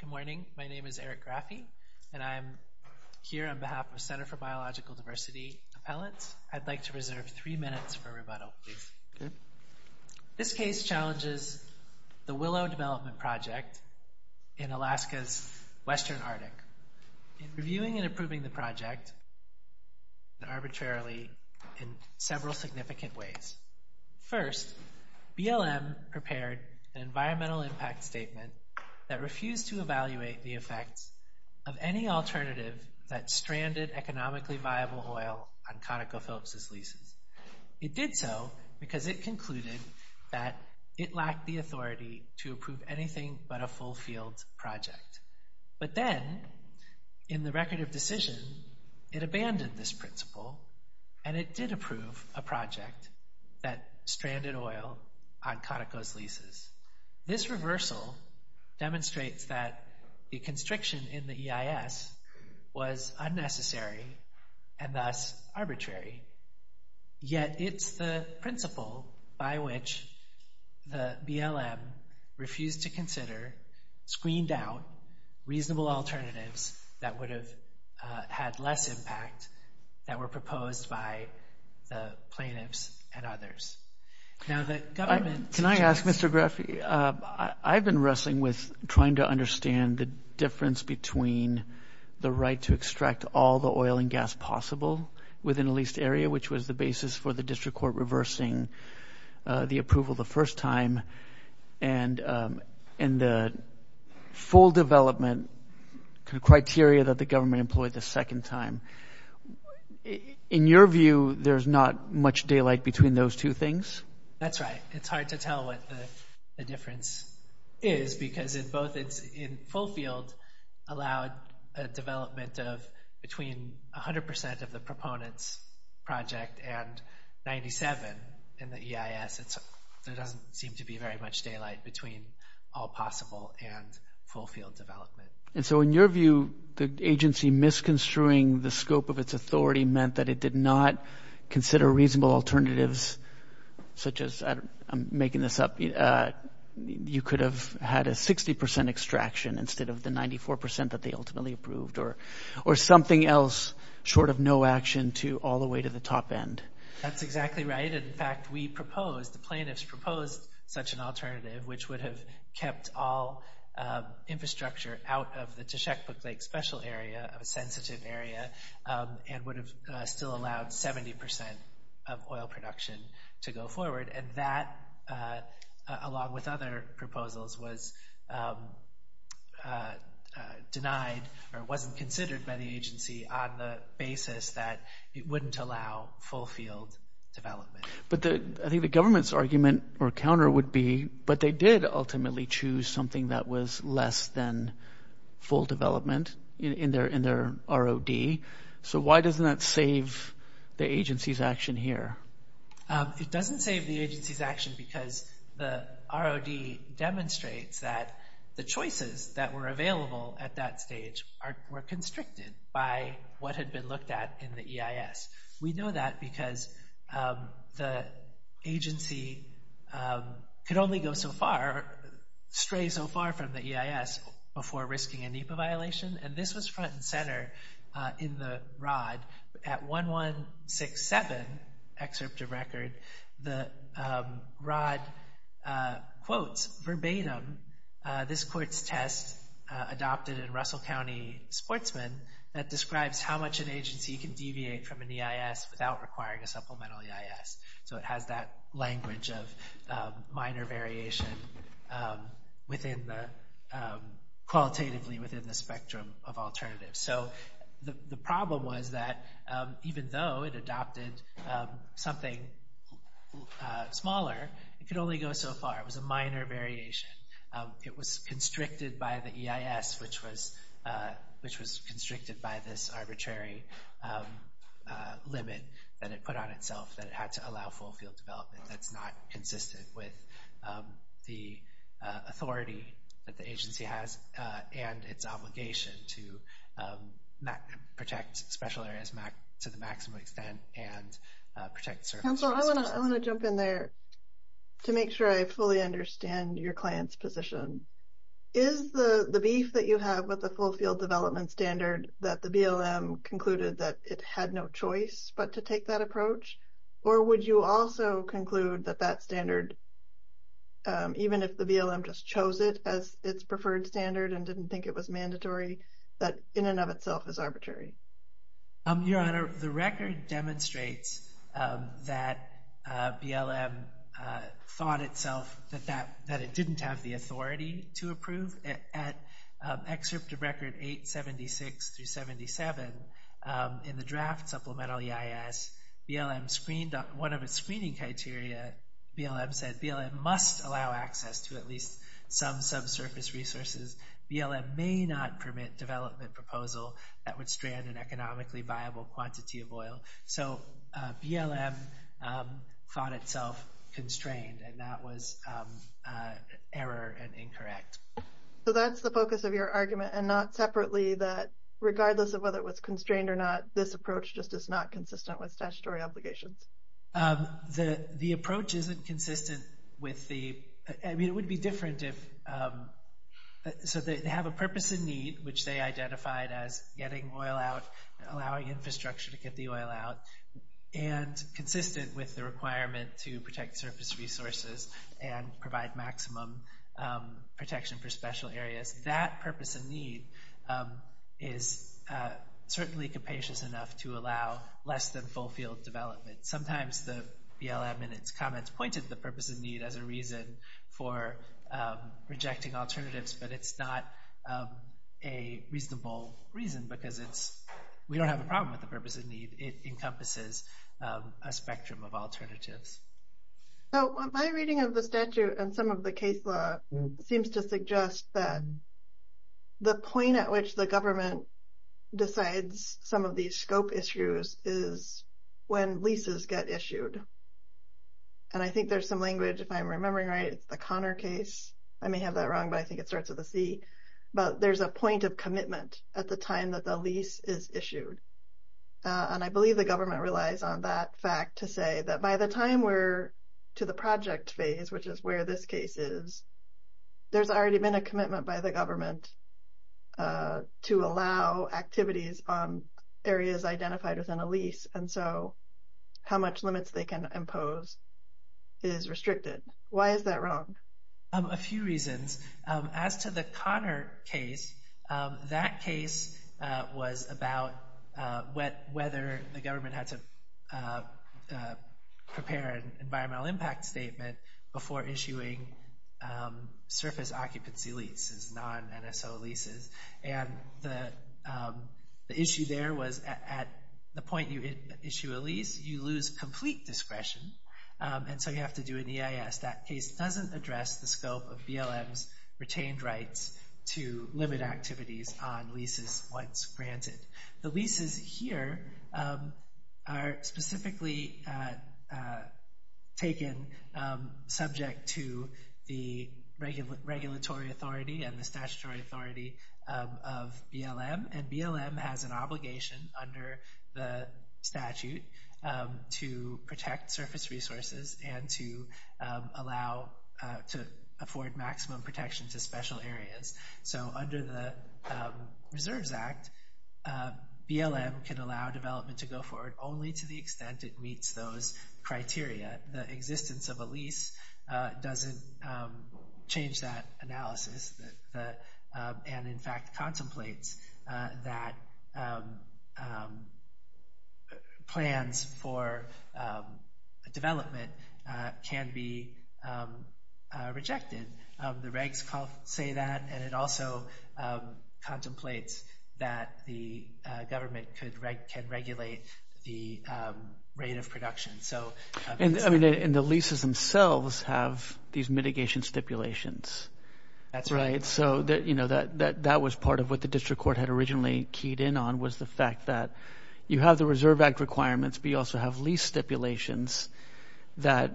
Good morning. My name is Eric Graffi, and I'm here on behalf of Center for Biological Diversity appellants. I'd like to reserve three minutes for rebuttal. This case challenges the Willow development project in Alaska's western Arctic. In reviewing and approving the project, and arbitrarily, in several significant ways. First, BLM prepared an environmental impact statement that refused to evaluate the effects of any alternative that stranded economically viable oil on ConocoPhillips' leases. It did so because it concluded that it lacked the authority to approve anything but a full field project. But then, in the record of decision, it abandoned this principle, and it did approve a project that stranded oil on Conoco's leases. This reversal demonstrates that the constriction in the EIS was unnecessary, and thus arbitrary. Yet, it's the principle by which the BLM refused to consider, screened out, reasonable alternatives that would have had less impact that were proposed by the plaintiffs and others. Can I ask, Mr. Graffi? I've been wrestling with trying to understand the difference between the right to extract all the oil and gas possible within a leased area, which was the basis for the district court reversing the approval the first time, and the full development criteria that the government employed the second time. In your view, there's not much daylight between those two things? That's right. It's hard to tell what the difference is, because both in full field allowed a development of between 100% of the proponents' project and 97% in the EIS. There doesn't seem to be very much daylight between all possible and full field development. In your view, the agency misconstruing the scope of its authority meant that it did not consider reasonable alternatives, such as—I'm making this up—you could have had a 60% extraction instead of the 94% that they ultimately approved, or something else short of no action all the way to the top end? That's exactly right. In fact, we proposed, the plaintiffs proposed such an alternative, which would have kept all infrastructure out of the Teshekpuk Lake Special Area, a sensitive area, and would have still allowed 70% of oil production to go forward. That, along with other proposals, was denied or wasn't considered by the agency on the basis that it wouldn't allow full field development. I think the government's argument or counter would be, but they did ultimately choose something that was less than full development in their ROD. Why doesn't that save the agency's action here? It doesn't save the agency's action because the ROD demonstrates that the choices that were available at that stage were constricted by what had been looked at in the EIS. We know that because the agency could only go so far, stray so far from the EIS before risking a NEPA violation, and this was front and center in the ROD. At 1167, excerpt of record, the ROD quotes verbatim this court's test adopted in Russell County Sportsman that describes how much an agency can deviate from an EIS without requiring a supplemental EIS. It has that language of minor variation qualitatively within the spectrum of alternatives. The problem was that even though it adopted something smaller, it could only go so far. It was a minor variation. It was constricted by the EIS, which was constricted by this arbitrary limit that it put on itself that it had to allow full field development. That's not consistent with the authority that the agency has and its obligation to protect special areas to the maximum extent and protect services. Council, I want to jump in there to make sure I fully understand your client's position. Is the beef that you have with the full field development standard that the BLM concluded that it had no choice but to take that approach? Or would you also conclude that that standard, even if the BLM just chose it as its preferred standard and didn't think it was mandatory, that in and of itself is arbitrary? Your Honor, the record demonstrates that BLM thought itself that it didn't have the authority to approve. At Excerpt of Record 876-77, in the draft supplemental EIS, BLM screened one of its screening criteria. BLM said BLM must allow access to at least some subsurface resources. BLM may not permit development proposal that would strand an economically viable quantity of oil. So BLM thought itself constrained, and that was error and incorrect. So that's the focus of your argument, and not separately that regardless of whether it was constrained or not, this approach just is not consistent with statutory obligations? The approach isn't consistent with the—I mean, it would be different if—so they have a purpose and need, which they identified as getting oil out, allowing infrastructure to get the oil out, and consistent with the requirement to protect surface resources and provide maximum protection for special areas. That purpose and need is certainly capacious enough to allow less than full field development. Sometimes the BLM in its comments pointed to the purpose and need as a reason for rejecting alternatives, but it's not a reasonable reason because it's—we don't have a problem with the purpose and need. It encompasses a spectrum of alternatives. So my reading of the statute and some of the case law seems to suggest that the point at which the government decides some of these scope issues is when leases get issued. And I think there's some language, if I'm remembering right, it's the Connor case. I may have that wrong, but I think it starts with a C. But there's a point of commitment at the time that the lease is issued. And I believe the government relies on that fact to say that by the time we're to the project phase, which is where this case is, there's already been a commitment by the government to allow activities on areas identified within a lease. And so how much limits they can impose is restricted. Why is that wrong? A few reasons. As to the Connor case, that case was about whether the government had to prepare an environmental impact statement before issuing surface occupancy leases, non-NSO leases. And the issue there was at the point you issue a lease, you lose complete discretion. And so you have to do an EIS. That case doesn't address the scope of BLM's retained rights to limit activities on leases once granted. The leases here are specifically taken subject to the regulatory authority and the statutory authority of BLM. And BLM has an obligation under the statute to protect surface resources and to allow, to afford maximum protection to special areas. So under the Reserves Act, BLM can allow development to go forward only to the extent it meets those criteria. The existence of a lease doesn't change that analysis and in fact contemplates that plans for development can be rejected. The regs say that and it also contemplates that the government can regulate the rate of production. And the leases themselves have these mitigation stipulations. That was part of what the district court had originally keyed in on was the fact that you have the Reserve Act requirements, but you also have lease stipulations that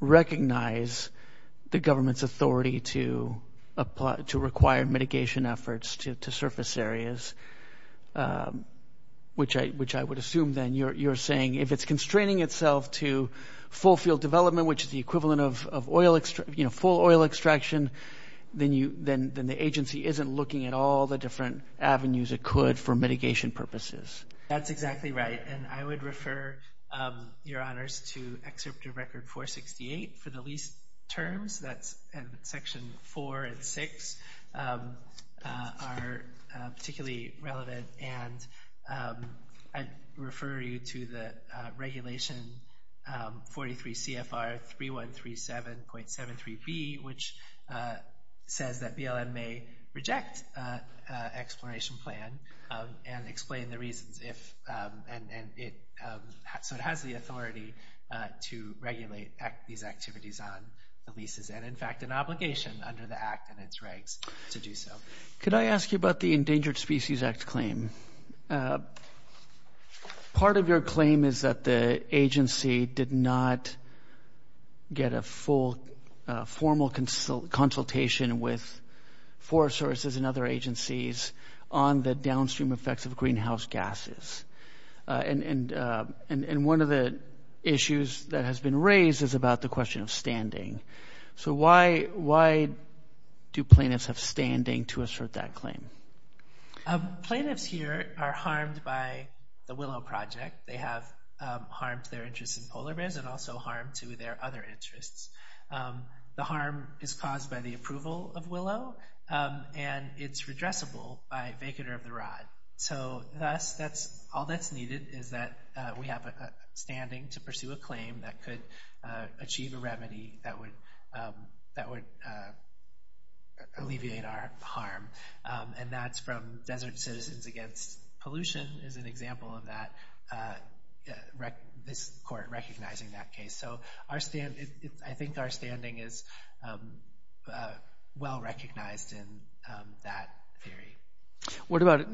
recognize the government's authority to require mitigation efforts to surface areas. Which I would assume then you're saying if it's constraining itself to full field development, which is the equivalent of full oil extraction, then the agency isn't looking at all the different avenues it could for mitigation purposes. That's exactly right. And I would refer your honors to Excerptive Record 468 for the lease terms that's in section four and six are particularly relevant. And I'd refer you to the regulation 43 CFR 3137.73 B, which says that BLM may reject exploration plan and explain the reasons if and it so it has the authority to regulate these activities on the leases and in fact an obligation under the act and its regs to do so. Could I ask you about the Endangered Species Act claim? Part of your claim is that the agency did not get a full formal consultation with forest services and other agencies on the downstream effects of greenhouse gases. And one of the issues that has been raised is about the question of standing. So why do plaintiffs have standing to assert that claim? Plaintiffs here are harmed by the Willow Project. They have harmed their interests in polar bears and also harmed to their other interests. The harm is caused by the approval of Willow, and it's redressable by vacater of the rod. So that's that's all that's needed is that we have a standing to pursue a claim that could achieve a remedy that would that would alleviate our harm. And that's from Desert Citizens Against Pollution is an example of that. This court recognizing that case. So I think our standing is well recognized in that theory. What about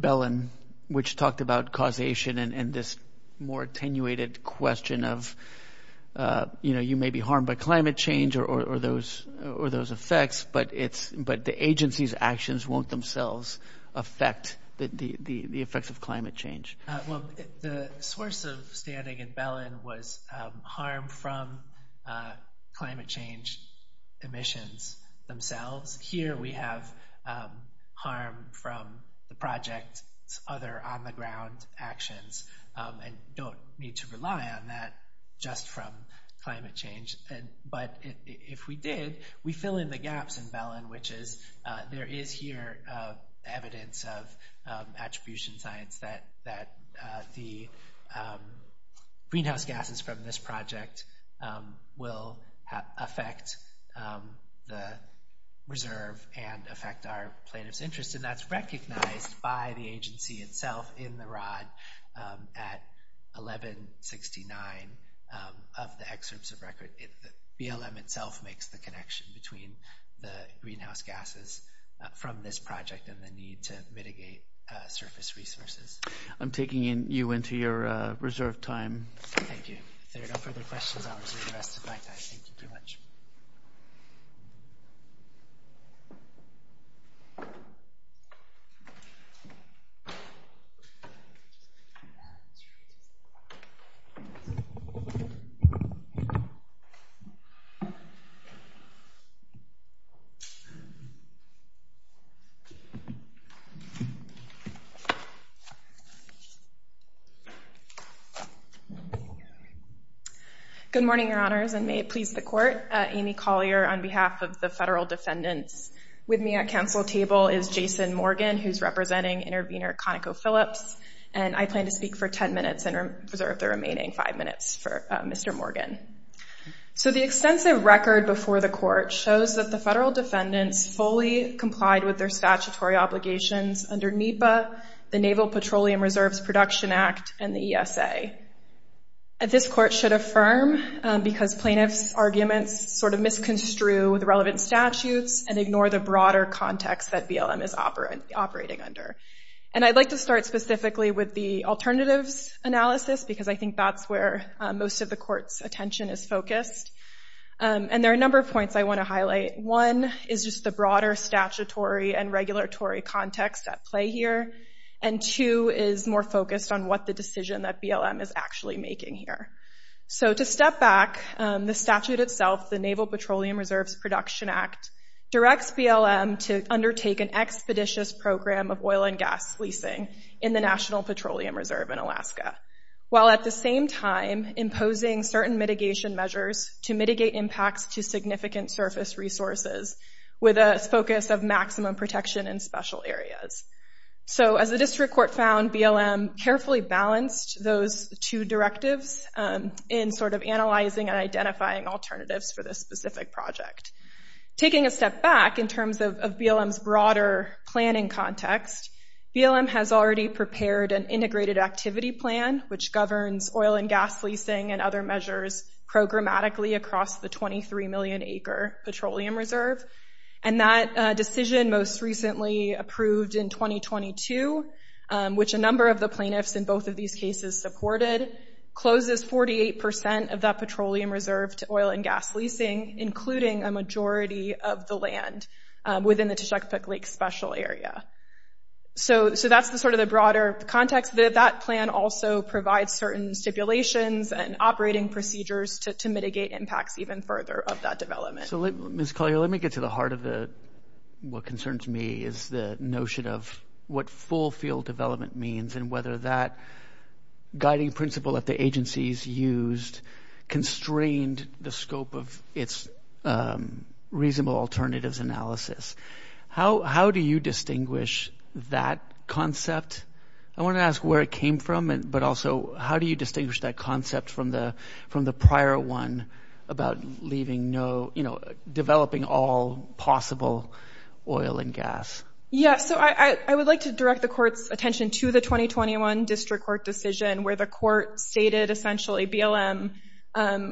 Bellin, which talked about causation and this more attenuated question of, you know, you may be harmed by climate change or those or those effects, but it's but the agency's actions won't themselves affect the effects of climate change. Well, the source of standing in Bellin was harmed from climate change emissions themselves. Here we have harm from the project's other on the ground actions and don't need to rely on that just from climate change. And but if we did, we fill in the gaps in Bellin, which is there is here evidence of attribution science that that the greenhouse gases from this project will affect the reserve and affect our plaintiff's interest. And that's recognized by the agency itself in the rod at eleven sixty nine of the excerpts of record. BLM itself makes the connection between the greenhouse gases from this project and the need to mitigate surface resources. I'm taking you into your reserve time. Thank you for the questions. Thank you very much. Good morning, your honors, and may it please the court. Amy Collier on behalf of the federal defendants with me at council table is Jason Morgan, who's representing intervener Conoco Phillips. And I plan to speak for 10 minutes and preserve the remaining five minutes for Mr. Morgan. So the extensive record before the court shows that the federal defendants fully complied with their statutory obligations under NEPA, the Naval Petroleum Reserves Production Act and the ESA. At this court should affirm because plaintiff's arguments sort of misconstrued with relevant statutes and ignore the broader context that BLM is operating under. And I'd like to start specifically with the alternatives analysis, because I think that's where most of the court's attention is focused. And there are a number of points I want to highlight. One is just the broader statutory and regulatory context at play here. And two is more focused on what the decision that BLM is actually making here. So to step back, the statute itself, the Naval Petroleum Reserves Production Act, directs BLM to undertake an expeditious program of oil and gas leasing in the National Petroleum Reserve in Alaska. While at the same time imposing certain mitigation measures to mitigate impacts to significant surface resources with a focus of maximum protection in special areas. So as the district court found, BLM carefully balanced those two directives in sort of analyzing and identifying alternatives for this specific project. Taking a step back in terms of BLM's broader planning context, BLM has already prepared an integrated activity plan which governs oil and gas leasing and other measures programmatically across the 23 million acre petroleum reserve. And that decision most recently approved in 2022, which a number of the plaintiffs in both of these cases supported, closes 48% of that petroleum reserve to oil and gas leasing, including a majority of the land within the Tishikapook Lake Special Area. So that's the sort of the broader context. That plan also provides certain stipulations and operating procedures to mitigate impacts even further of that development. So, Ms. Collier, let me get to the heart of what concerns me is the notion of what full field development means and whether that guiding principle that the agencies used constrained the scope of its reasonable alternatives analysis. How do you distinguish that concept? I want to ask where it came from, but also how do you distinguish that concept from the prior one about leaving no, you know, developing all possible oil and gas? Yeah, so I would like to direct the court's attention to the 2021 district court decision where the court stated essentially BLM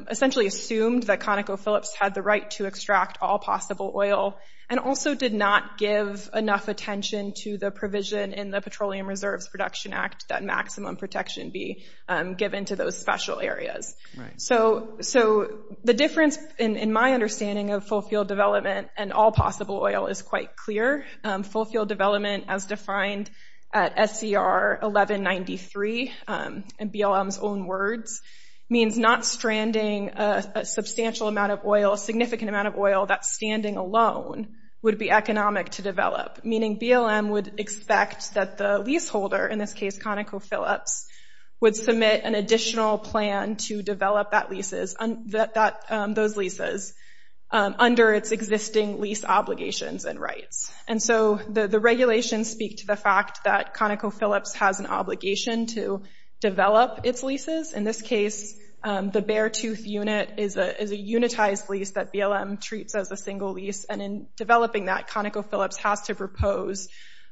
essentially assumed that ConocoPhillips had the right to extract all possible oil and also did not give enough attention to the provision in the Petroleum Reserves Production Act that maximum protection be given to those special areas. So the difference in my understanding of full field development and all possible oil is quite clear. Full field development as defined at SCR 1193 in BLM's own words means not stranding a substantial amount of oil, a significant amount of oil that's standing alone would be economic to develop. Meaning BLM would expect that the leaseholder, in this case ConocoPhillips, would submit an additional plan to develop those leases under its existing lease obligations and rights. And so the regulations speak to the fact that ConocoPhillips has an obligation to develop its leases. In this case, the Beartooth unit is a unitized lease that BLM treats as a single lease. And in developing that, ConocoPhillips has to propose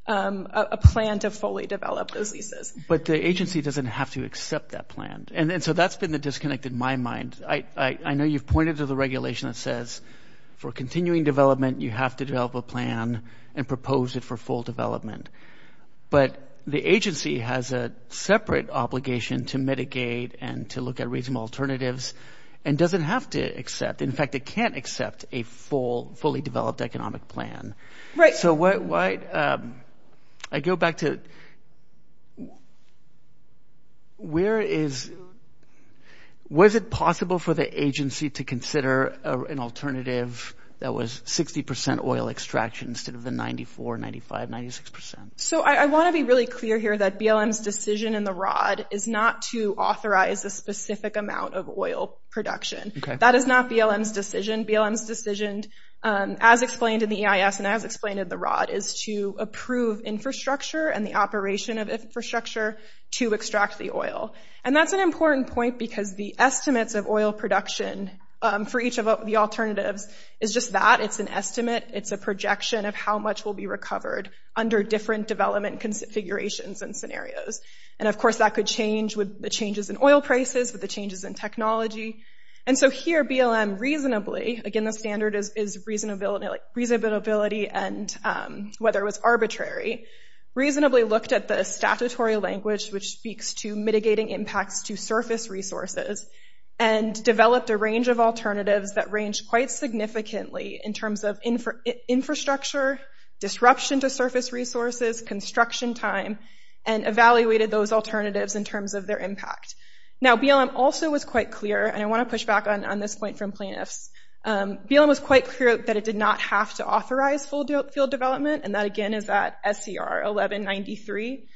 a plan to fully develop those leases. But the agency doesn't have to accept that plan. And so that's been the disconnect in my mind. I know you've pointed to the regulation that says for continuing development, you have to develop a plan and propose it for full development. But the agency has a separate obligation to mitigate and to look at reasonable alternatives and doesn't have to accept. In fact, it can't accept a full – fully developed economic plan. So why – I go back to where is – was it possible for the agency to consider an alternative that was 60 percent oil extraction instead of the 94, 95, 96 percent? So I want to be really clear here that BLM's decision in the ROD is not to authorize a specific amount of oil production. That is not BLM's decision. BLM's decision, as explained in the EIS and as explained in the ROD, is to approve infrastructure and the operation of infrastructure to extract the oil. And that's an important point because the estimates of oil production for each of the alternatives is just that. It's an estimate. It's a projection of how much will be recovered under different development configurations and scenarios. And of course, that could change with the changes in oil prices, with the changes in technology. And so here BLM reasonably – again, the standard is reasonability and whether it was arbitrary – reasonably looked at the statutory language, which speaks to mitigating impacts to surface resources, and developed a range of alternatives that range quite significantly in terms of infrastructure, disruption to surface resources, construction time, and evaluated those alternatives in terms of their impact. Now BLM also was quite clear – and I want to push back on this point from plaintiffs – BLM was quite clear that it did not have to authorize full field development. And that, again, is at SER 1193.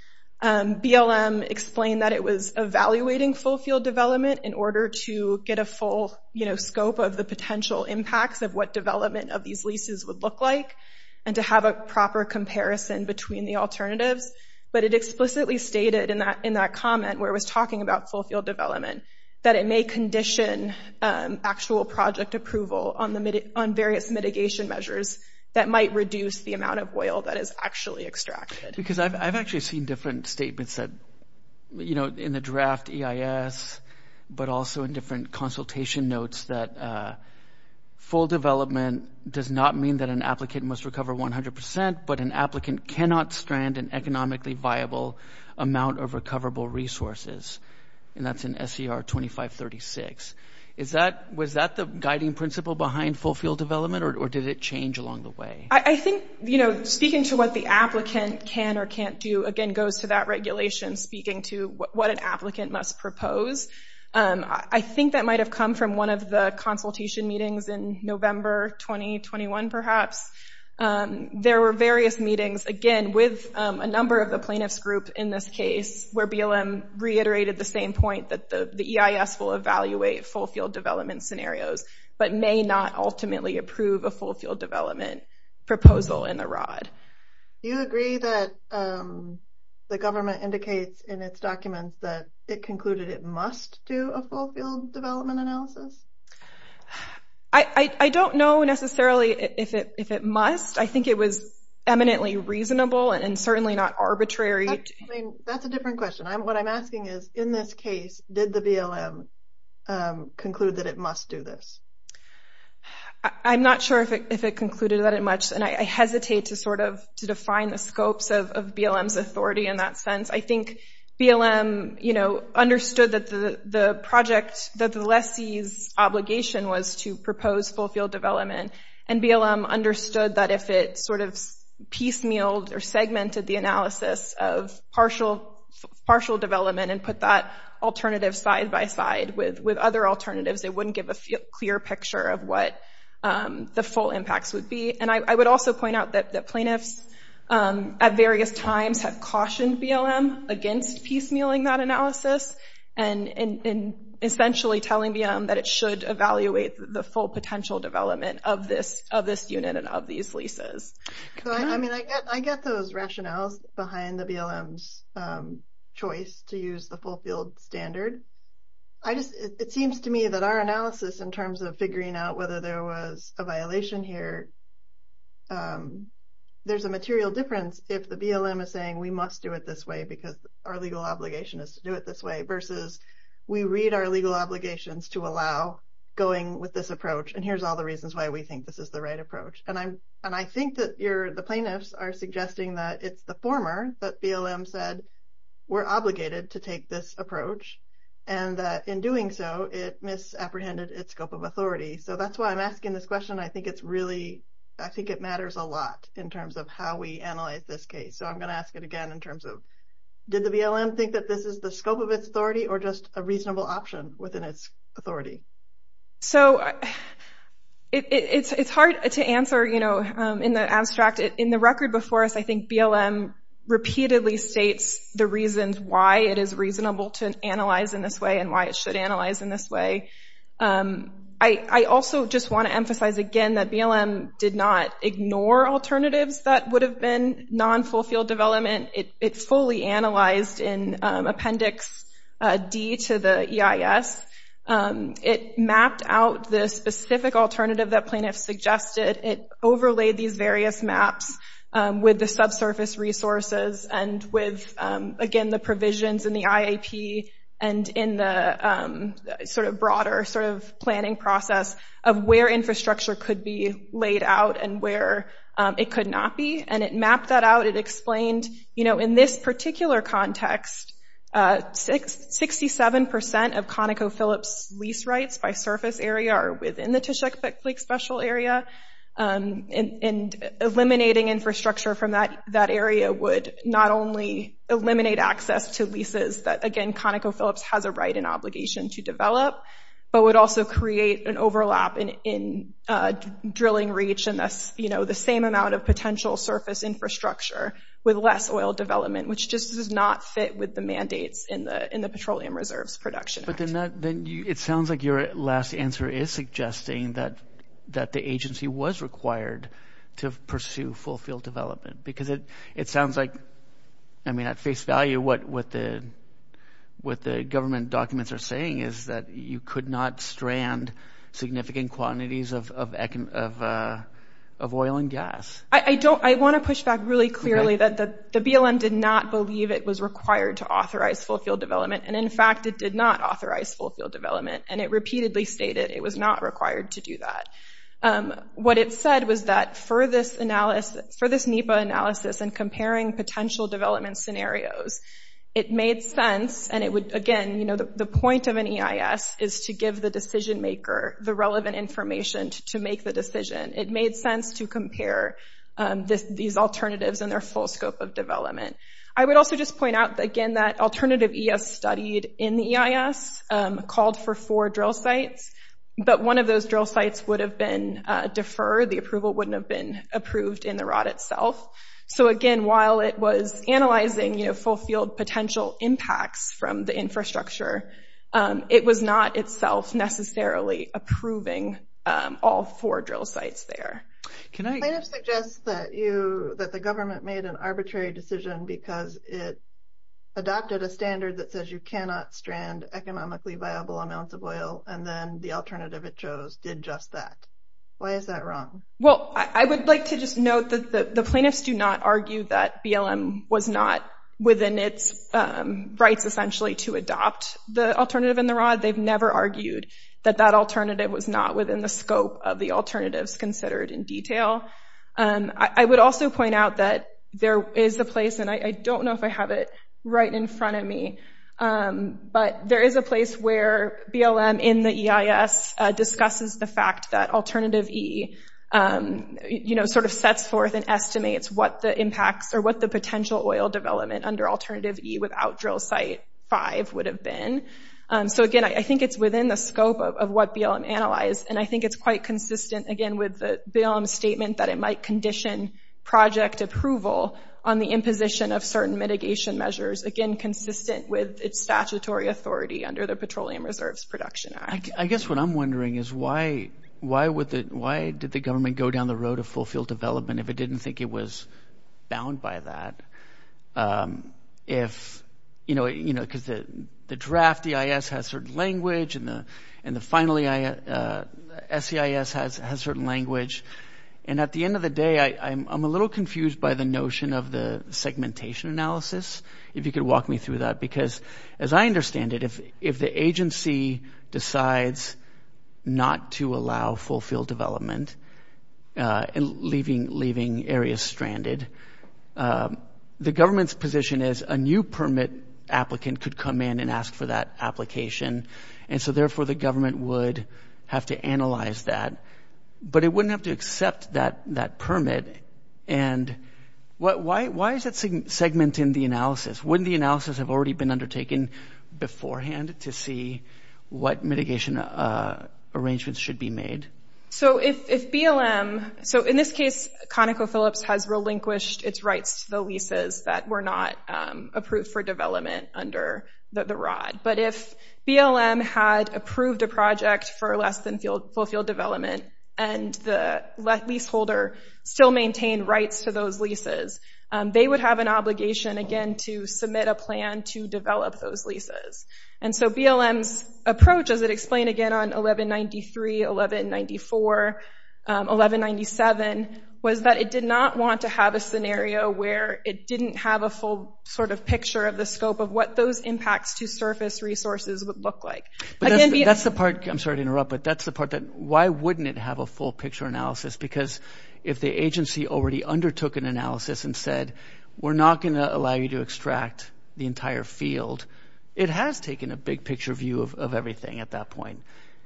BLM explained that it was evaluating full field development in order to get a full, you know, scope of the potential impacts of what development of these leases would look like and to have a proper comparison between the alternatives. But it explicitly stated in that comment where it was talking about full field development that it may condition actual project approval on various mitigation measures that might reduce the amount of oil that is actually extracted. Because I've actually seen different statements that – you know, in the draft EIS, but also in different consultation notes that full development does not mean that an applicant must recover 100 percent, but an applicant cannot strand an economically viable amount of recoverable resources. And that's in SER 2536. Is that – was that the guiding principle behind full field development, or did it change along the way? I think, you know, speaking to what the applicant can or can't do, again, goes to that regulation speaking to what an applicant must propose. I think that might have come from one of the consultation meetings in November 2021, perhaps. There were various meetings, again, with a number of the plaintiffs' groups in this case where BLM reiterated the same point that the EIS will evaluate full field development scenarios, but may not ultimately approve a full field development proposal in the ROD. Do you agree that the government indicates in its documents that it concluded it must do a full field development analysis? I don't know necessarily if it must. I think it was eminently reasonable and certainly not arbitrary. That's a different question. What I'm asking is, in this case, did the BLM conclude that it must do this? I'm not sure if it concluded that it must, and I hesitate to sort of define the scopes of BLM's authority in that sense. I think BLM, you know, understood that the project, that the lessee's obligation was to propose full field development, and BLM understood that if it sort of piecemealed or segmented the analysis of partial development and put that alternative side by side with other alternatives, it wouldn't give a clear picture of what the full impacts would be. And I would also point out that the plaintiffs at various times have cautioned BLM against piecemealing that analysis and essentially telling BLM that it should evaluate the full potential development of this unit and of these leases. I mean, I get those rationales behind the BLM's choice to use the full field standard. It seems to me that our analysis in terms of figuring out whether there was a violation here, there's a material difference if the BLM is saying we must do it this way because our legal obligation is to do it this way versus we read our legal obligations to allow going with this approach, and here's all the reasons why we think this is the right approach. And I think that the plaintiffs are suggesting that it's the former that BLM said we're obligated to take this approach, and that in doing so, it misapprehended its scope of authority. So that's why I'm asking this question. I think it's really, I think it matters a lot in terms of how we analyze this case. So I'm going to ask it again in terms of did the BLM think that this is the scope of its authority or just a reasonable option within its authority? So it's hard to answer in the abstract. In the record before us, I think BLM repeatedly states the reasons why it is reasonable to analyze in this way and why it should analyze in this way. I also just want to emphasize again that BLM did not ignore alternatives that would have been non-full field development. It fully analyzed in Appendix D to the EIS. It mapped out the specific alternative that plaintiffs suggested. It overlaid these various maps with the subsurface resources and with, again, the provisions in the IAP and in the sort of broader sort of planning process of where infrastructure could be laid out and where it could not be. And it mapped that out. It explained, you know, in this particular context, 67% of ConocoPhillips lease rights by surface area are within the Tishak Lake Special Area and eliminating infrastructure from that area would not only eliminate access to leases that, again, ConocoPhillips has a right and obligation to develop, but would also create an overlap in drilling reach and, you know, the same amount of potential surface infrastructure with less oil development, which just does not fit with the mandates in the Petroleum Reserves Production Act. But then it sounds like your last answer is suggesting that the agency was required to pursue full field development because it sounds like, I mean, at face value, what the government documents are saying is that you could not strand significant quantities of oil and gas. I want to push back really clearly that the BLM did not believe it was required to authorize full field development. And in fact, it did not authorize full field development. And it repeatedly stated it was not required to do that. What it said was that for this NEPA analysis and comparing potential development scenarios, it made sense. And it would, again, you know, the point of an EIS is to give the decision maker the relevant information to make the decision. It made sense to compare these alternatives and their full scope of development. I would also just point out, again, that alternative EIS studied in the EIS called for four drill sites. But one of those drill sites would have been deferred. The approval wouldn't have been approved in the ROD itself. So again, while it was analyzing, you know, full field potential impacts from the infrastructure, it was not itself necessarily approving all four drill sites there. Can I suggest that you that the government made an arbitrary decision because it adopted a standard that says you cannot strand economically viable amounts of oil and then the alternative it chose did just that. Why is that wrong? Well, I would like to just note that the plaintiffs do not argue that BLM was not within its rights essentially to adopt the alternative in the ROD. They've never argued that that alternative was not within the scope of the alternatives considered in detail. I would also point out that there is a place, and I don't know if I have it right in front of me, but there is a place where BLM in the EIS discusses the fact that alternative E, you know, sort of sets forth and estimates what the impacts or what the potential oil development under alternative E without drill site five would have been. So again, I think it's within the scope of what BLM analyzed, and I think it's quite consistent again with the BLM statement that it might condition project approval on the imposition of certain mitigation measures. Again, consistent with its statutory authority under the Petroleum Reserves Production Act. I guess what I'm wondering is why did the government go down the road of fulfilled development if it didn't think it was bound by that? If, you know, because the draft EIS has certain language and the finally SEIS has certain language. And at the end of the day, I'm a little confused by the notion of the segmentation analysis, if you could walk me through that. Because as I understand it, if the agency decides not to allow fulfilled development and leaving areas stranded, the government's position is a new permit applicant could come in and ask for that application. And so therefore the government would have to analyze that, but it wouldn't have to accept that permit. And why is that segment in the analysis? Wouldn't the analysis have already been undertaken beforehand to see what mitigation arrangements should be made? So if BLM, so in this case ConocoPhillips has relinquished its rights to the leases that were not approved for development under the ROD. But if BLM had approved a project for less than fulfilled development and the leaseholder still maintained rights to those leases, they would have an obligation again to submit a plan to develop those leases. And so BLM's approach, as it explained again on 1193, 1194, 1197, was that it did not want to have a scenario where it didn't have a full sort of picture of the scope of what those impacts to surface resources would look like. But that's the part, I'm sorry to interrupt, but that's the part that why wouldn't it have a full picture analysis? Because if the agency already undertook an analysis and said, we're not going to allow you to extract the entire field, it has taken a big picture view of everything at that point.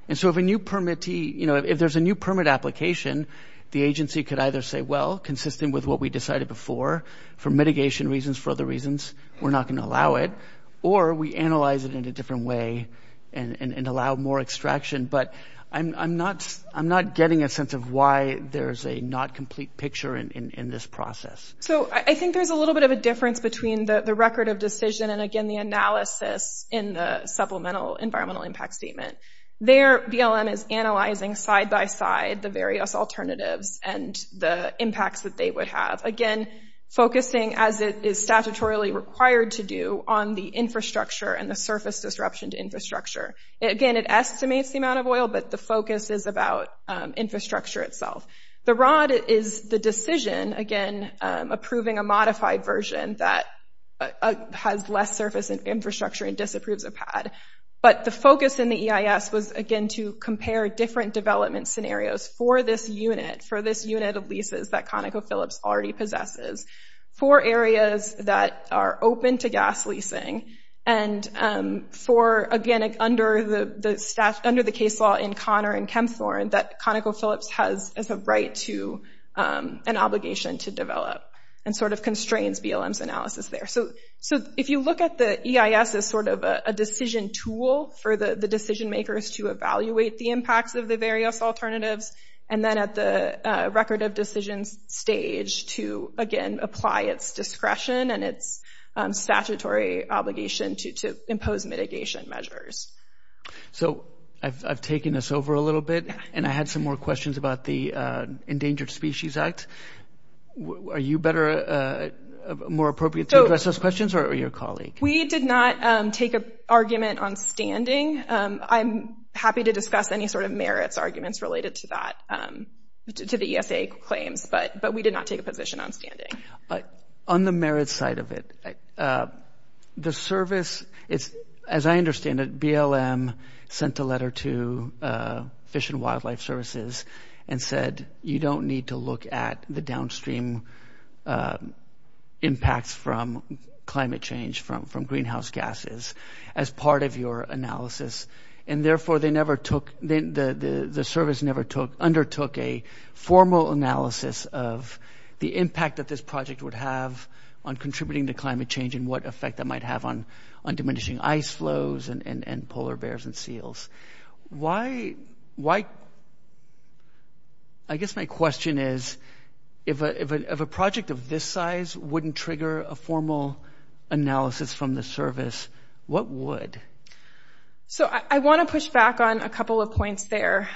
And so if there's a new permit application, the agency could either say, well, consistent with what we decided before for mitigation reasons, for other reasons, we're not going to allow it. Or we analyze it in a different way and allow more extraction. But I'm not getting a sense of why there's a not complete picture in this process. So I think there's a little bit of a difference between the record of decision and again the analysis in the supplemental environmental impact statement. There, BLM is analyzing side by side the various alternatives and the impacts that they would have. Again, focusing as it is statutorily required to do on the infrastructure and the surface disruption to infrastructure. Again, it estimates the amount of oil, but the focus is about infrastructure itself. The ROD is the decision, again, approving a modified version that has less surface infrastructure and disapproves a pad. But the focus in the EIS was again to compare different development scenarios for this unit, for this unit of leases that ConocoPhillips already possesses. For areas that are open to gas leasing and for, again, under the case law in Connor and Kempthorne that ConocoPhillips has a right to an obligation to develop and sort of constrains BLM's analysis there. So if you look at the EIS as sort of a decision tool for the decision makers to evaluate the impacts of the various alternatives and then at the record of decisions stage to, again, apply its discretion and its statutory obligation to impose mitigation measures. So I've taken this over a little bit and I had some more questions about the Endangered Species Act. Are you better, more appropriate to address those questions or your colleague? We did not take an argument on standing. I'm happy to discuss any sort of merits arguments related to that, to the ESA claims, but we did not take a position on standing. On the merits side of it, the service, as I understand it, BLM sent a letter to Fish and Wildlife Services and said you don't need to look at the downstream impacts from climate change, from greenhouse gases as part of your analysis. And therefore they never took, the service never undertook a formal analysis of the impact that this project would have on contributing to climate change and what effect that might have on diminishing ice flows and polar bears and seals. Why, I guess my question is, if a project of this size wouldn't trigger a formal analysis from the service, what would? So I want to push back on a couple of points there.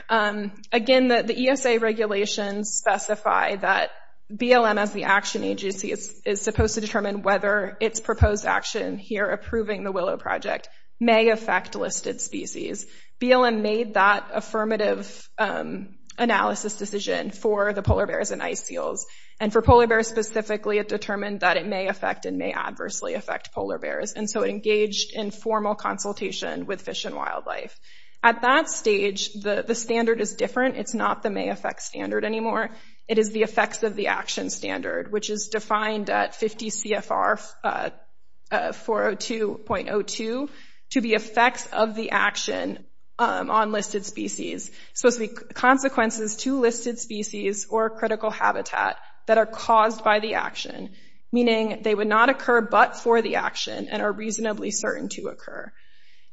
Again, the ESA regulations specify that BLM as the action agency is supposed to determine whether its proposed action here approving the Willow Project may affect listed species. BLM made that affirmative analysis decision for the polar bears and ice seals. And for polar bears specifically, it determined that it may affect and may adversely affect polar bears. And so it engaged in formal consultation with Fish and Wildlife. At that stage, the standard is different. It's not the may affect standard anymore. It is the effects of the action standard, which is defined at 50 CFR 402.02 to be effects of the action on listed species. So it's the consequences to listed species or critical habitat that are caused by the action, meaning they would not occur but for the action and are reasonably certain to occur.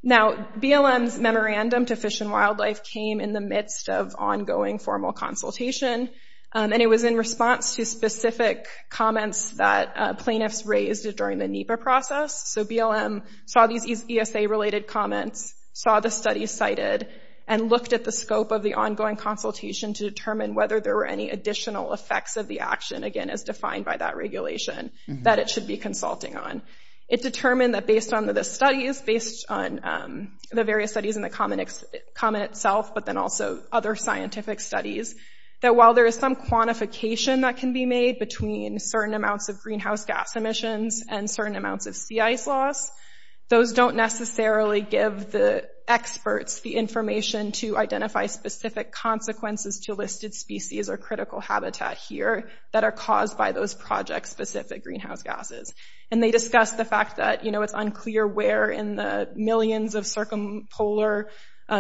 Now BLM's memorandum to Fish and Wildlife came in the midst of ongoing formal consultation. And it was in response to specific comments that plaintiffs raised during the NEPA process. So BLM saw these ESA related comments, saw the studies cited, and looked at the scope of the ongoing consultation to determine whether there were any additional effects of the action, again as defined by that regulation, that it should be consulting on. It determined that based on the various studies and the comment itself, but then also other scientific studies, that while there is some quantification that can be made between certain amounts of greenhouse gas emissions and certain amounts of sea ice loss, those don't necessarily give the experts the information to identify specific consequences to listed species or critical habitat here that are caused by those project-specific greenhouse gases. And they discussed the fact that, you know, it's unclear where in the millions of circumpolar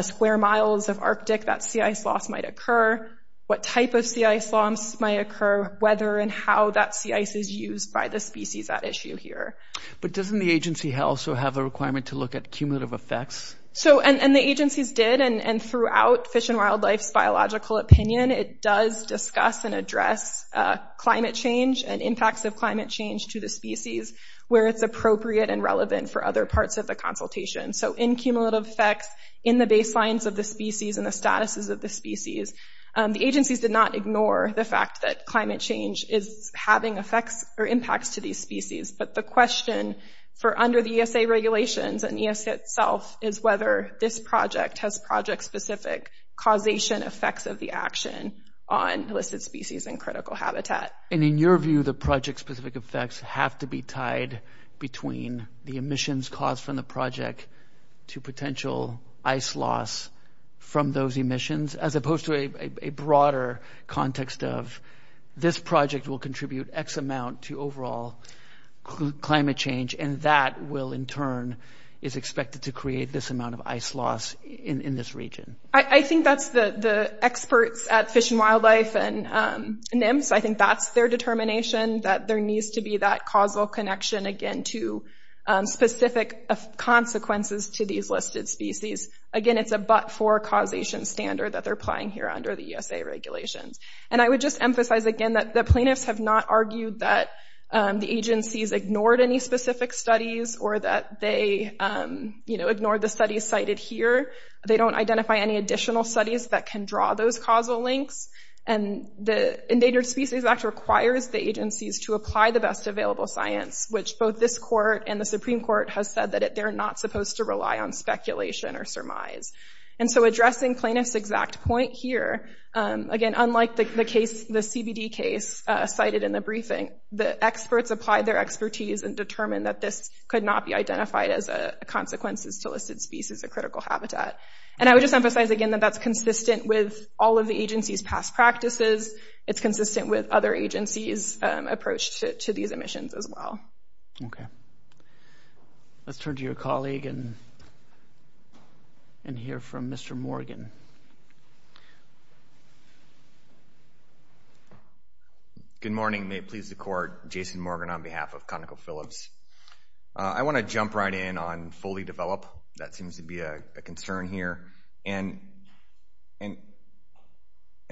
square miles of Arctic that sea ice loss might occur, what type of sea ice loss might occur, whether and how that sea ice is used by the species at issue here. But doesn't the agency also have a requirement to look at cumulative effects? So, and the agencies did, and throughout Fish and Wildlife's biological opinion, it does discuss and address climate change and impacts of climate change to the species where it's appropriate and relevant for other parts of the consultation. So, in cumulative effects, in the baselines of the species and the statuses of the species, the agencies did not ignore the fact that climate change is having effects or impacts to these species. But the question for under the ESA regulations and ESA itself is whether this project has project-specific causation effects of the action on listed species and critical habitat. And in your view, the project-specific effects have to be tied between the emissions caused from the project to potential ice loss from those emissions, as opposed to a broader context of this project will contribute X amount to overall climate change. And that will in turn is expected to create this amount of ice loss in this region. I think that's the experts at Fish and Wildlife and NIMS. I think that's their determination that there needs to be that causal connection, again, to specific consequences to these listed species. Again, it's a but-for causation standard that they're applying here under the ESA regulations. And I would just emphasize again that the plaintiffs have not argued that the agencies ignored any specific studies or that they, you know, ignored the studies cited here. They don't identify any additional studies that can draw those causal links. And the Endangered Species Act requires the agencies to apply the best available science, which both this court and the Supreme Court has said that they're not supposed to rely on speculation or surmise. And so addressing plaintiffs' exact point here, again, unlike the case, the CBD case cited in the briefing, the experts applied their expertise and determined that this could not be identified as a consequences to listed species or critical habitat. And I would just emphasize again that that's consistent with all of the agency's past practices. It's consistent with other agencies' approach to these emissions as well. Okay. Let's turn to your colleague and hear from Mr. Morgan. Good morning. May it please the court, Jason Morgan on behalf of ConocoPhillips. I want to jump right in on fully develop. That seems to be a concern here. And in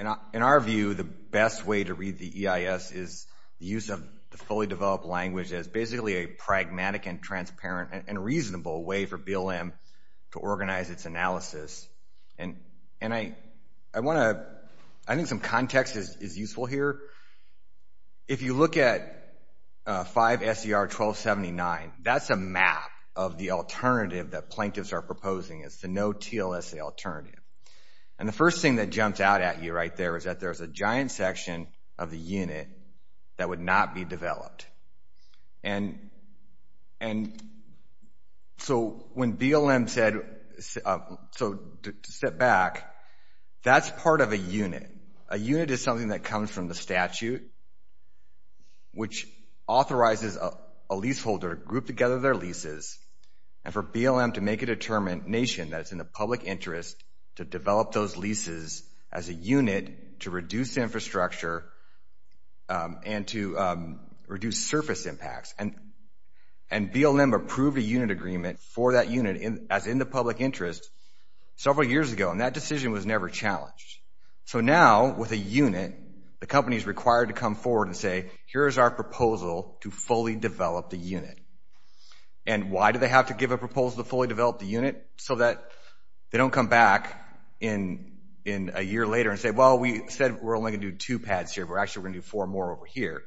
our view, the best way to read the EIS is the use of the fully developed language as basically a pragmatic and transparent and reasonable way for BLM to organize its analysis. And I want to, I think some context is useful here. If you look at 5 S.E.R. 1279, that's a map of the alternative that plaintiffs are proposing. It's the no-TLSA alternative. And the first thing that jumps out at you right there is that there's a giant section of the unit that would not be developed. And so when BLM said, so to step back, that's part of a unit. A unit is something that comes from the statute, which authorizes a leaseholder to group together their leases and for BLM to make a determination that it's in the public interest to develop those leases as a unit to reduce infrastructure and to reduce surface impacts. And BLM approved a unit agreement for that unit as in the public interest several years ago, and that decision was never challenged. So now with a unit, the company is required to come forward and say, here's our proposal to fully develop the unit. And why do they have to give a proposal to fully develop the unit? So that they don't come back in a year later and say, well, we said we're only going to do two pads here, but actually we're going to do four more over here.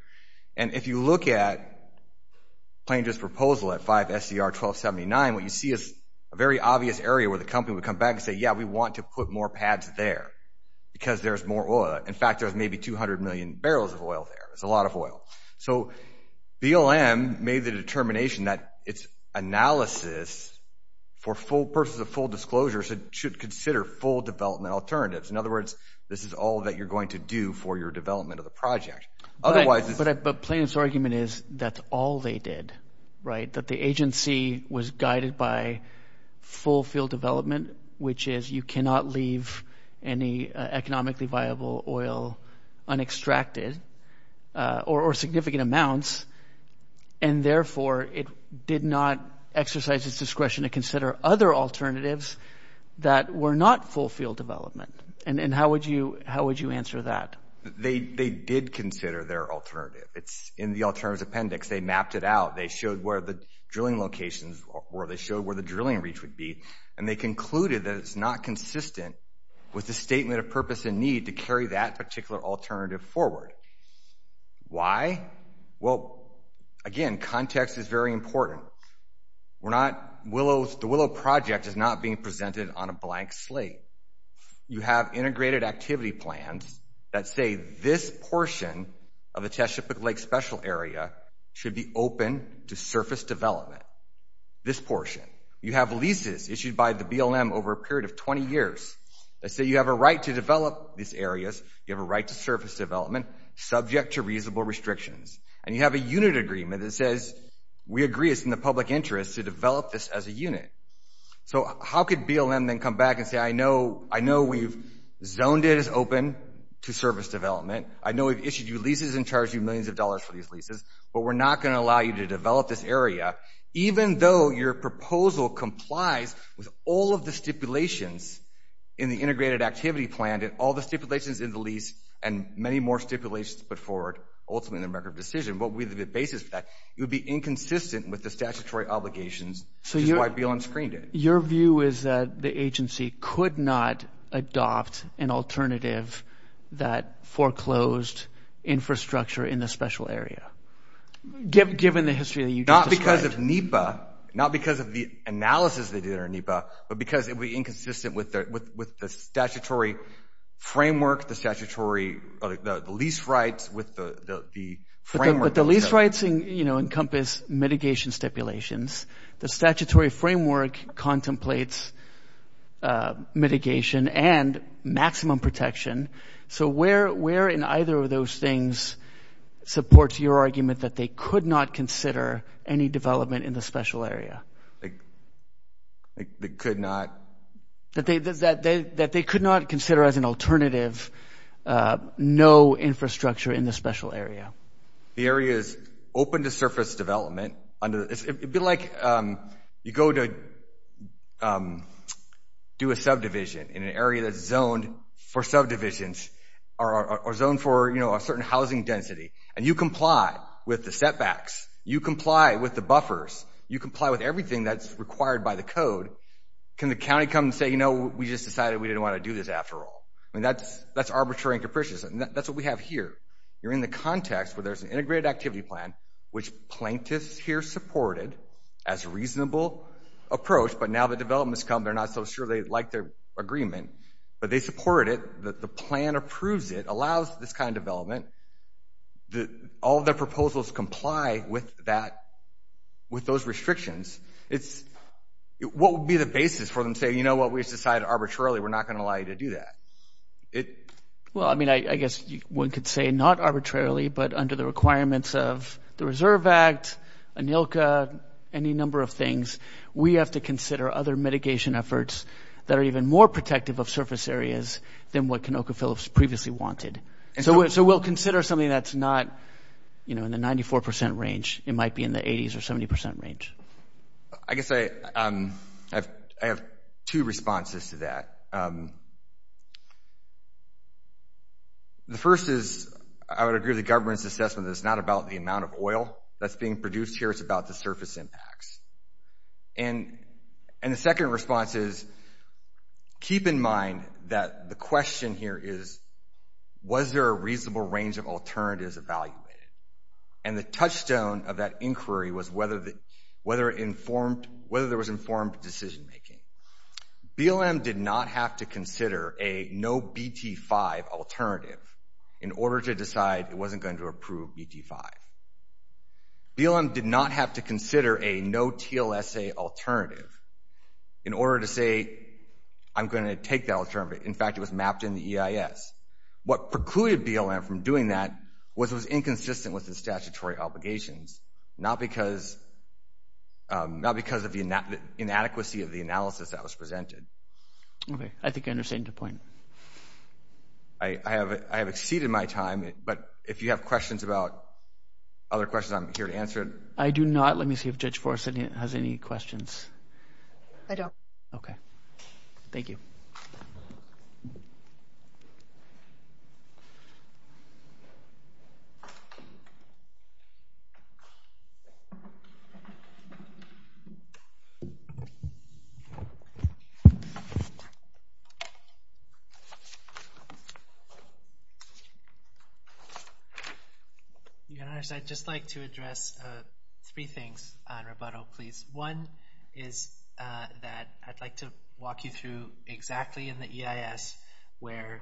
And if you look at Plano's proposal at 5 SCR 1279, what you see is a very obvious area where the company would come back and say, yeah, we want to put more pads there because there's more oil. In fact, there's maybe 200 million barrels of oil there. It's a lot of oil. So BLM made the determination that its analysis for purposes of full disclosure should consider full development alternatives. In other words, this is all that you're going to do for your development of the project. But Plano's argument is that's all they did, right? That the agency was guided by full field development, which is you cannot leave any economically viable oil unextracted or significant amounts. And therefore, it did not exercise its discretion to consider other alternatives that were not full field development. And how would you how would you answer that? They did consider their alternative. It's in the alternatives appendix. They mapped it out. They showed where the drilling locations were. They showed where the drilling reach would be. And they concluded that it's not consistent with the statement of purpose and need to carry that particular alternative forward. Why? Well, again, context is very important. The Willow project is not being presented on a blank slate. You have integrated activity plans that say this portion of the Chesapeake Lake Special Area should be open to surface development. This portion. You have leases issued by the BLM over a period of 20 years that say you have a right to develop these areas. You have a right to surface development subject to reasonable restrictions. And you have a unit agreement that says we agree it's in the public interest to develop this as a unit. So how could BLM then come back and say I know we've zoned it as open to surface development. I know we've issued you leases and charged you millions of dollars for these leases. But we're not going to allow you to develop this area even though your proposal complies with all of the stipulations in the integrated activity plan and all the stipulations in the lease and many more stipulations put forward ultimately in the record of decision. What would be the basis for that? It would be inconsistent with the statutory obligations which is why BLM screened it. So your view is that the agency could not adopt an alternative that foreclosed infrastructure in the special area given the history that you just described? Not because of NEPA, not because of the analysis they did on NEPA, but because it would be inconsistent with the statutory framework, the statutory lease rights with the framework. But the lease rights encompass mitigation stipulations. The statutory framework contemplates mitigation and maximum protection. So where in either of those things supports your argument that they could not consider any development in the special area? They could not. That they could not consider as an alternative no infrastructure in the special area? The area is open to surface development. It would be like you go to do a subdivision in an area that's zoned for subdivisions or zoned for a certain housing density. And you comply with the setbacks. You comply with the buffers. You comply with everything that's required by the code. Can the county come and say, you know, we just decided we didn't want to do this after all? I mean, that's arbitrary and capricious. And that's what we have here. You're in the context where there's an integrated activity plan, which plaintiffs here supported as a reasonable approach. But now the developments come. They're not so sure they like their agreement. But they support it. The plan approves it, allows this kind of development. All the proposals comply with that, with those restrictions. What would be the basis for them to say, you know what, we've decided arbitrarily we're not going to allow you to do that? Well, I mean, I guess one could say not arbitrarily, but under the requirements of the Reserve Act, ANILCA, any number of things. We have to consider other mitigation efforts that are even more protective of surface areas than what Canocha Phillips previously wanted. So we'll consider something that's not, you know, in the 94% range. It might be in the 80s or 70% range. I guess I have two responses to that. The first is I would agree with the government's assessment that it's not about the amount of oil that's being produced here. It's about the surface impacts. And the second response is keep in mind that the question here is was there a reasonable range of alternatives evaluated? And the touchstone of that inquiry was whether there was informed decision-making. BLM did not have to consider a no-BT5 alternative in order to decide it wasn't going to approve BT5. BLM did not have to consider a no-TLSA alternative in order to say I'm going to take that alternative. In fact, it was mapped in the EIS. What precluded BLM from doing that was it was inconsistent with the statutory obligations, not because of the inadequacy of the analysis that was presented. Okay, I think I understand your point. I have exceeded my time, but if you have questions about other questions, I'm here to answer it. I do not. Let me see if Judge Forrest has any questions. I don't. Okay. Thank you. Your Honor, I'd just like to address three things on rebuttal, please. One is that I'd like to walk you through exactly in the EIS where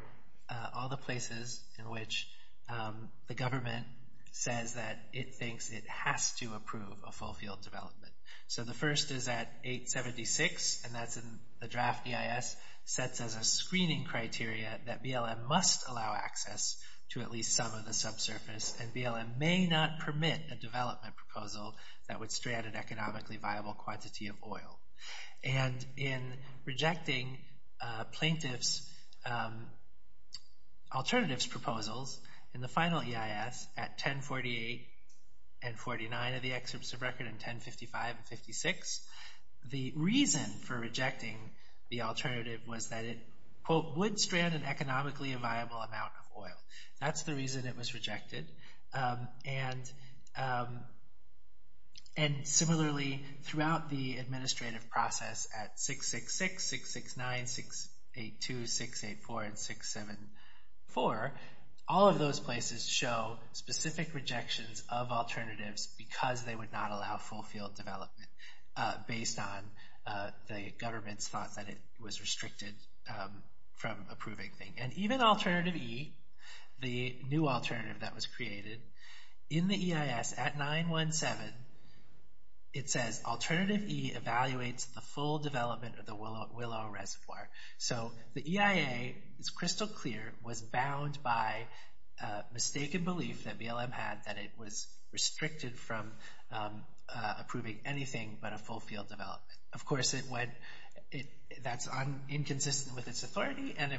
all the places in which the government says that it thinks it has to approve a full field development. So the first is at 876, and that's in the draft EIS, sets as a screening criteria that BLM must allow access to at least some of the subsurface, and BLM may not permit a development proposal that would strand an economically viable quantity of oil. And in rejecting plaintiff's alternatives proposals in the final EIS at 1048 and 49 of the excerpts of record and 1055 and 56, the reason for rejecting the alternative was that it, quote, would strand an economically viable amount of oil. That's the reason it was rejected. And similarly, throughout the administrative process at 666, 669, 682, 684, and 674, all of those places show specific rejections of alternatives because they would not allow full field development based on the government's thoughts that it was restricted from approving things. And even alternative E, the new alternative that was created, in the EIS at 917, it says alternative E evaluates the full development of the Willow Reservoir. So the EIA is crystal clear, was bound by mistaken belief that BLM had that it was restricted from approving anything but a full field development. Of course, that's inconsistent with its authority. And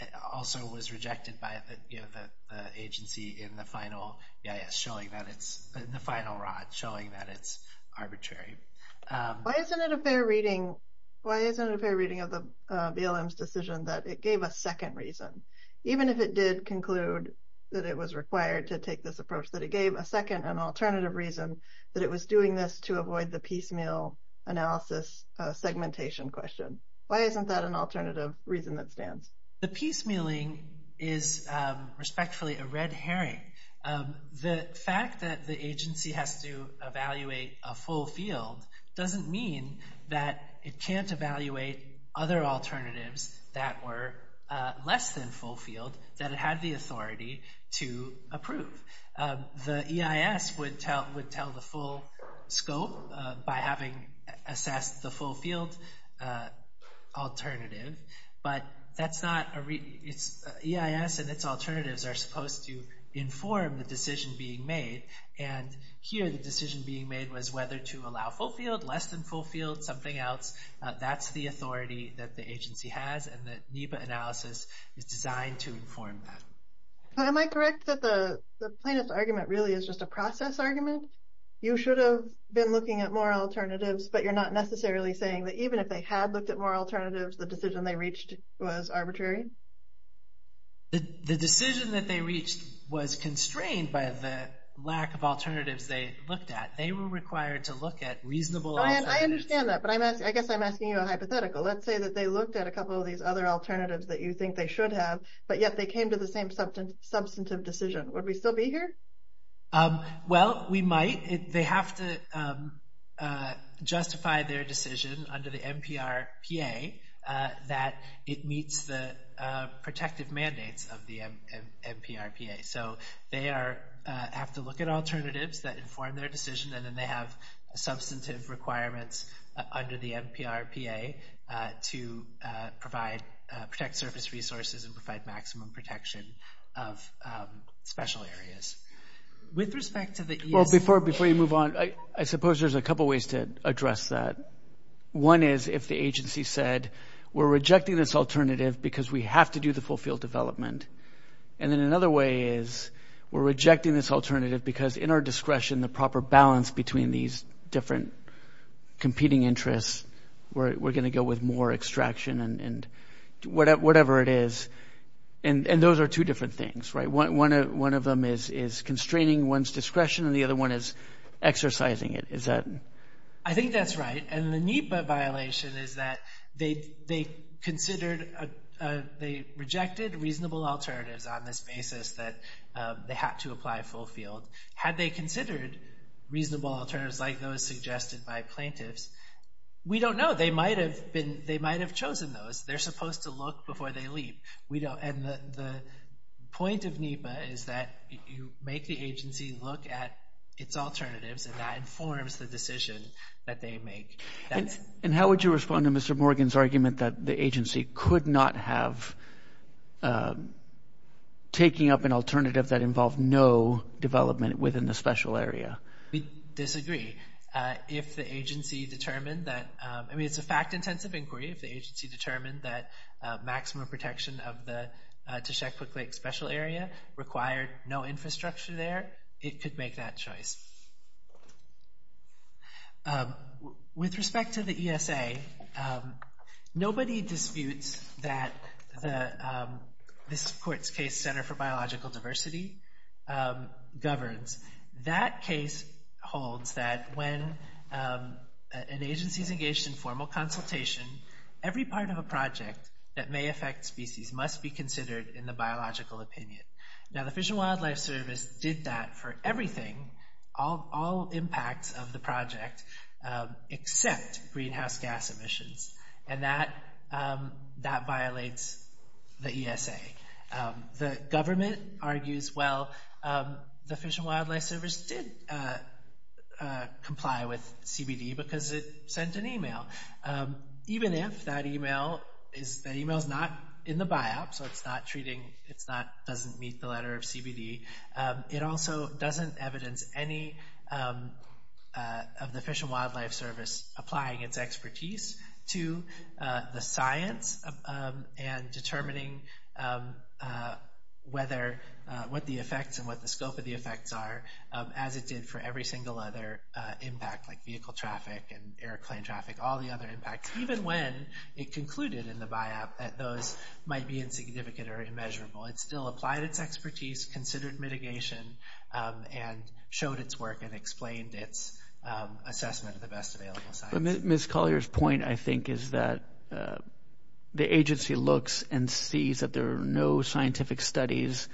it also was rejected by the agency in the final EIS, in the final ROD, showing that it's arbitrary. Why isn't it a fair reading of the BLM's decision that it gave a second reason, even if it did conclude that it was required to take this approach, that it gave a second and alternative reason that it was doing this to avoid the piecemeal analysis segmentation question? Why isn't that an alternative reason that stands? The piecemealing is respectfully a red herring. The fact that the agency has to evaluate a full field doesn't mean that it can't evaluate other alternatives that were less than full field that it had the authority to approve. The EIS would tell the full scope by having assessed the full field alternative, but EIS and its alternatives are supposed to inform the decision being made. And here the decision being made was whether to allow full field, less than full field, something else. That's the authority that the agency has, and the NEPA analysis is designed to inform that. Am I correct that the plaintiff's argument really is just a process argument? You should have been looking at more alternatives, but you're not necessarily saying that even if they had looked at more alternatives, the decision they reached was arbitrary? The decision that they reached was constrained by the lack of alternatives they looked at. They were required to look at reasonable alternatives. I understand that, but I guess I'm asking you a hypothetical. Let's say that they looked at a couple of these other alternatives that you think they should have, but yet they came to the same substantive decision. Would we still be here? Well, we might. They have to justify their decision under the NPRPA that it meets the protective mandates of the NPRPA. So they have to look at alternatives that inform their decision, and then they have substantive requirements under the NPRPA to protect surface resources and provide maximum protection of special areas. With respect to the ESA— Well, before you move on, I suppose there's a couple ways to address that. One is if the agency said, we're rejecting this alternative because we have to do the full field development. And then another way is we're rejecting this alternative because in our discretion, the proper balance between these different competing interests, we're going to go with more extraction and whatever it is. And those are two different things, right? One of them is constraining one's discretion and the other one is exercising it. Is that— I think that's right. And the NEPA violation is that they considered—they rejected reasonable alternatives on this basis that they had to apply full field. Had they considered reasonable alternatives like those suggested by plaintiffs, we don't know. They might have been—they might have chosen those. They're supposed to look before they leave. The point of NEPA is that you make the agency look at its alternatives and that informs the decision that they make. And how would you respond to Mr. Morgan's argument that the agency could not have taking up an alternative that involved no development within the special area? We disagree. If the agency determined that—I mean, it's a fact-intensive inquiry. If the agency determined that maximum protection of the Teshekpuk Lake special area required no infrastructure there, it could make that choice. With respect to the ESA, nobody disputes that this court's case, Center for Biological Diversity, governs. That case holds that when an agency is engaged in formal consultation, every part of a project that may affect species must be considered in the biological opinion. Now, the Fish and Wildlife Service did that for everything, all impacts of the project, except greenhouse gas emissions. And that violates the ESA. The government argues, well, the Fish and Wildlife Service did comply with CBD because it sent an email. Even if that email is not in the biop, so it's not treating—it doesn't meet the letter of CBD, it also doesn't evidence any of the Fish and Wildlife Service applying its expertise to the science and determining whether—what the effects and what the scope of the effects are, as it did for every single other impact, like vehicle traffic and airplane traffic, all the other impacts, even when it concluded in the biop that those might be insignificant or immeasurable. It still applied its expertise, considered mitigation, and showed its work and explained its assessment of the best available science. But Ms. Collier's point, I think, is that the agency looks and sees that there are no scientific studies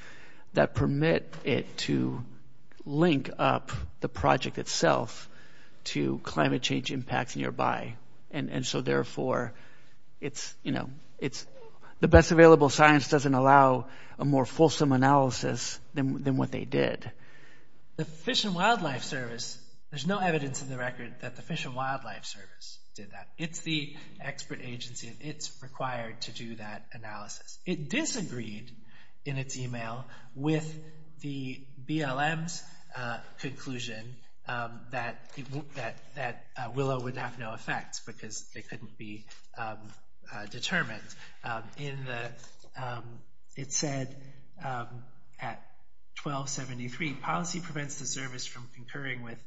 that permit it to link up the project itself to climate change impacts nearby. And so, therefore, the best available science doesn't allow a more fulsome analysis than what they did. The Fish and Wildlife Service—there's no evidence in the record that the Fish and Wildlife Service did that. It's the expert agency, and it's required to do that analysis. It disagreed in its email with the BLM's conclusion that Willow would have no effects because they couldn't be determined. It said at 1273, policy prevents the service from concurring with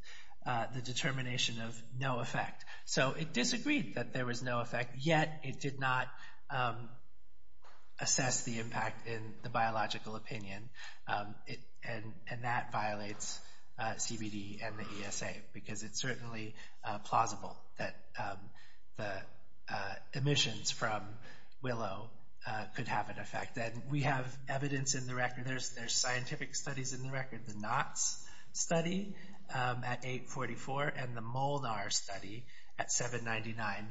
the determination of no effect. So it disagreed that there was no effect, yet it did not assess the impact in the biological opinion, and that violates CBD and the ESA, because it's certainly plausible that the emissions from Willow could have an effect. We have evidence in the record—there's scientific studies in the record—the NOTS study at 844 and the MOLNAR study at 799.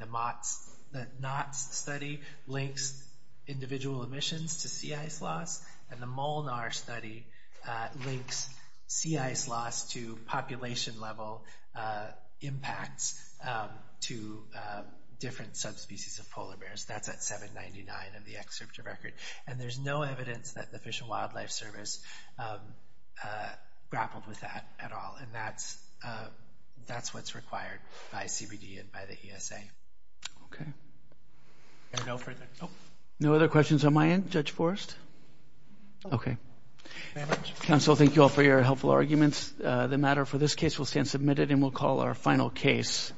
The NOTS study links individual emissions to sea ice loss, and the MOLNAR study links sea ice loss to population-level impacts to different subspecies of polar bears. That's at 799 in the excerpt of record, and there's no evidence that the Fish and Wildlife Service grappled with that at all, and that's what's required by CBD and by the ESA. Okay. No further—oh. No other questions on my end, Judge Forrest? Okay. Thank you very much. Counsel, thank you all for your helpful arguments. The matter for this case will stand submitted, and we'll call our final case.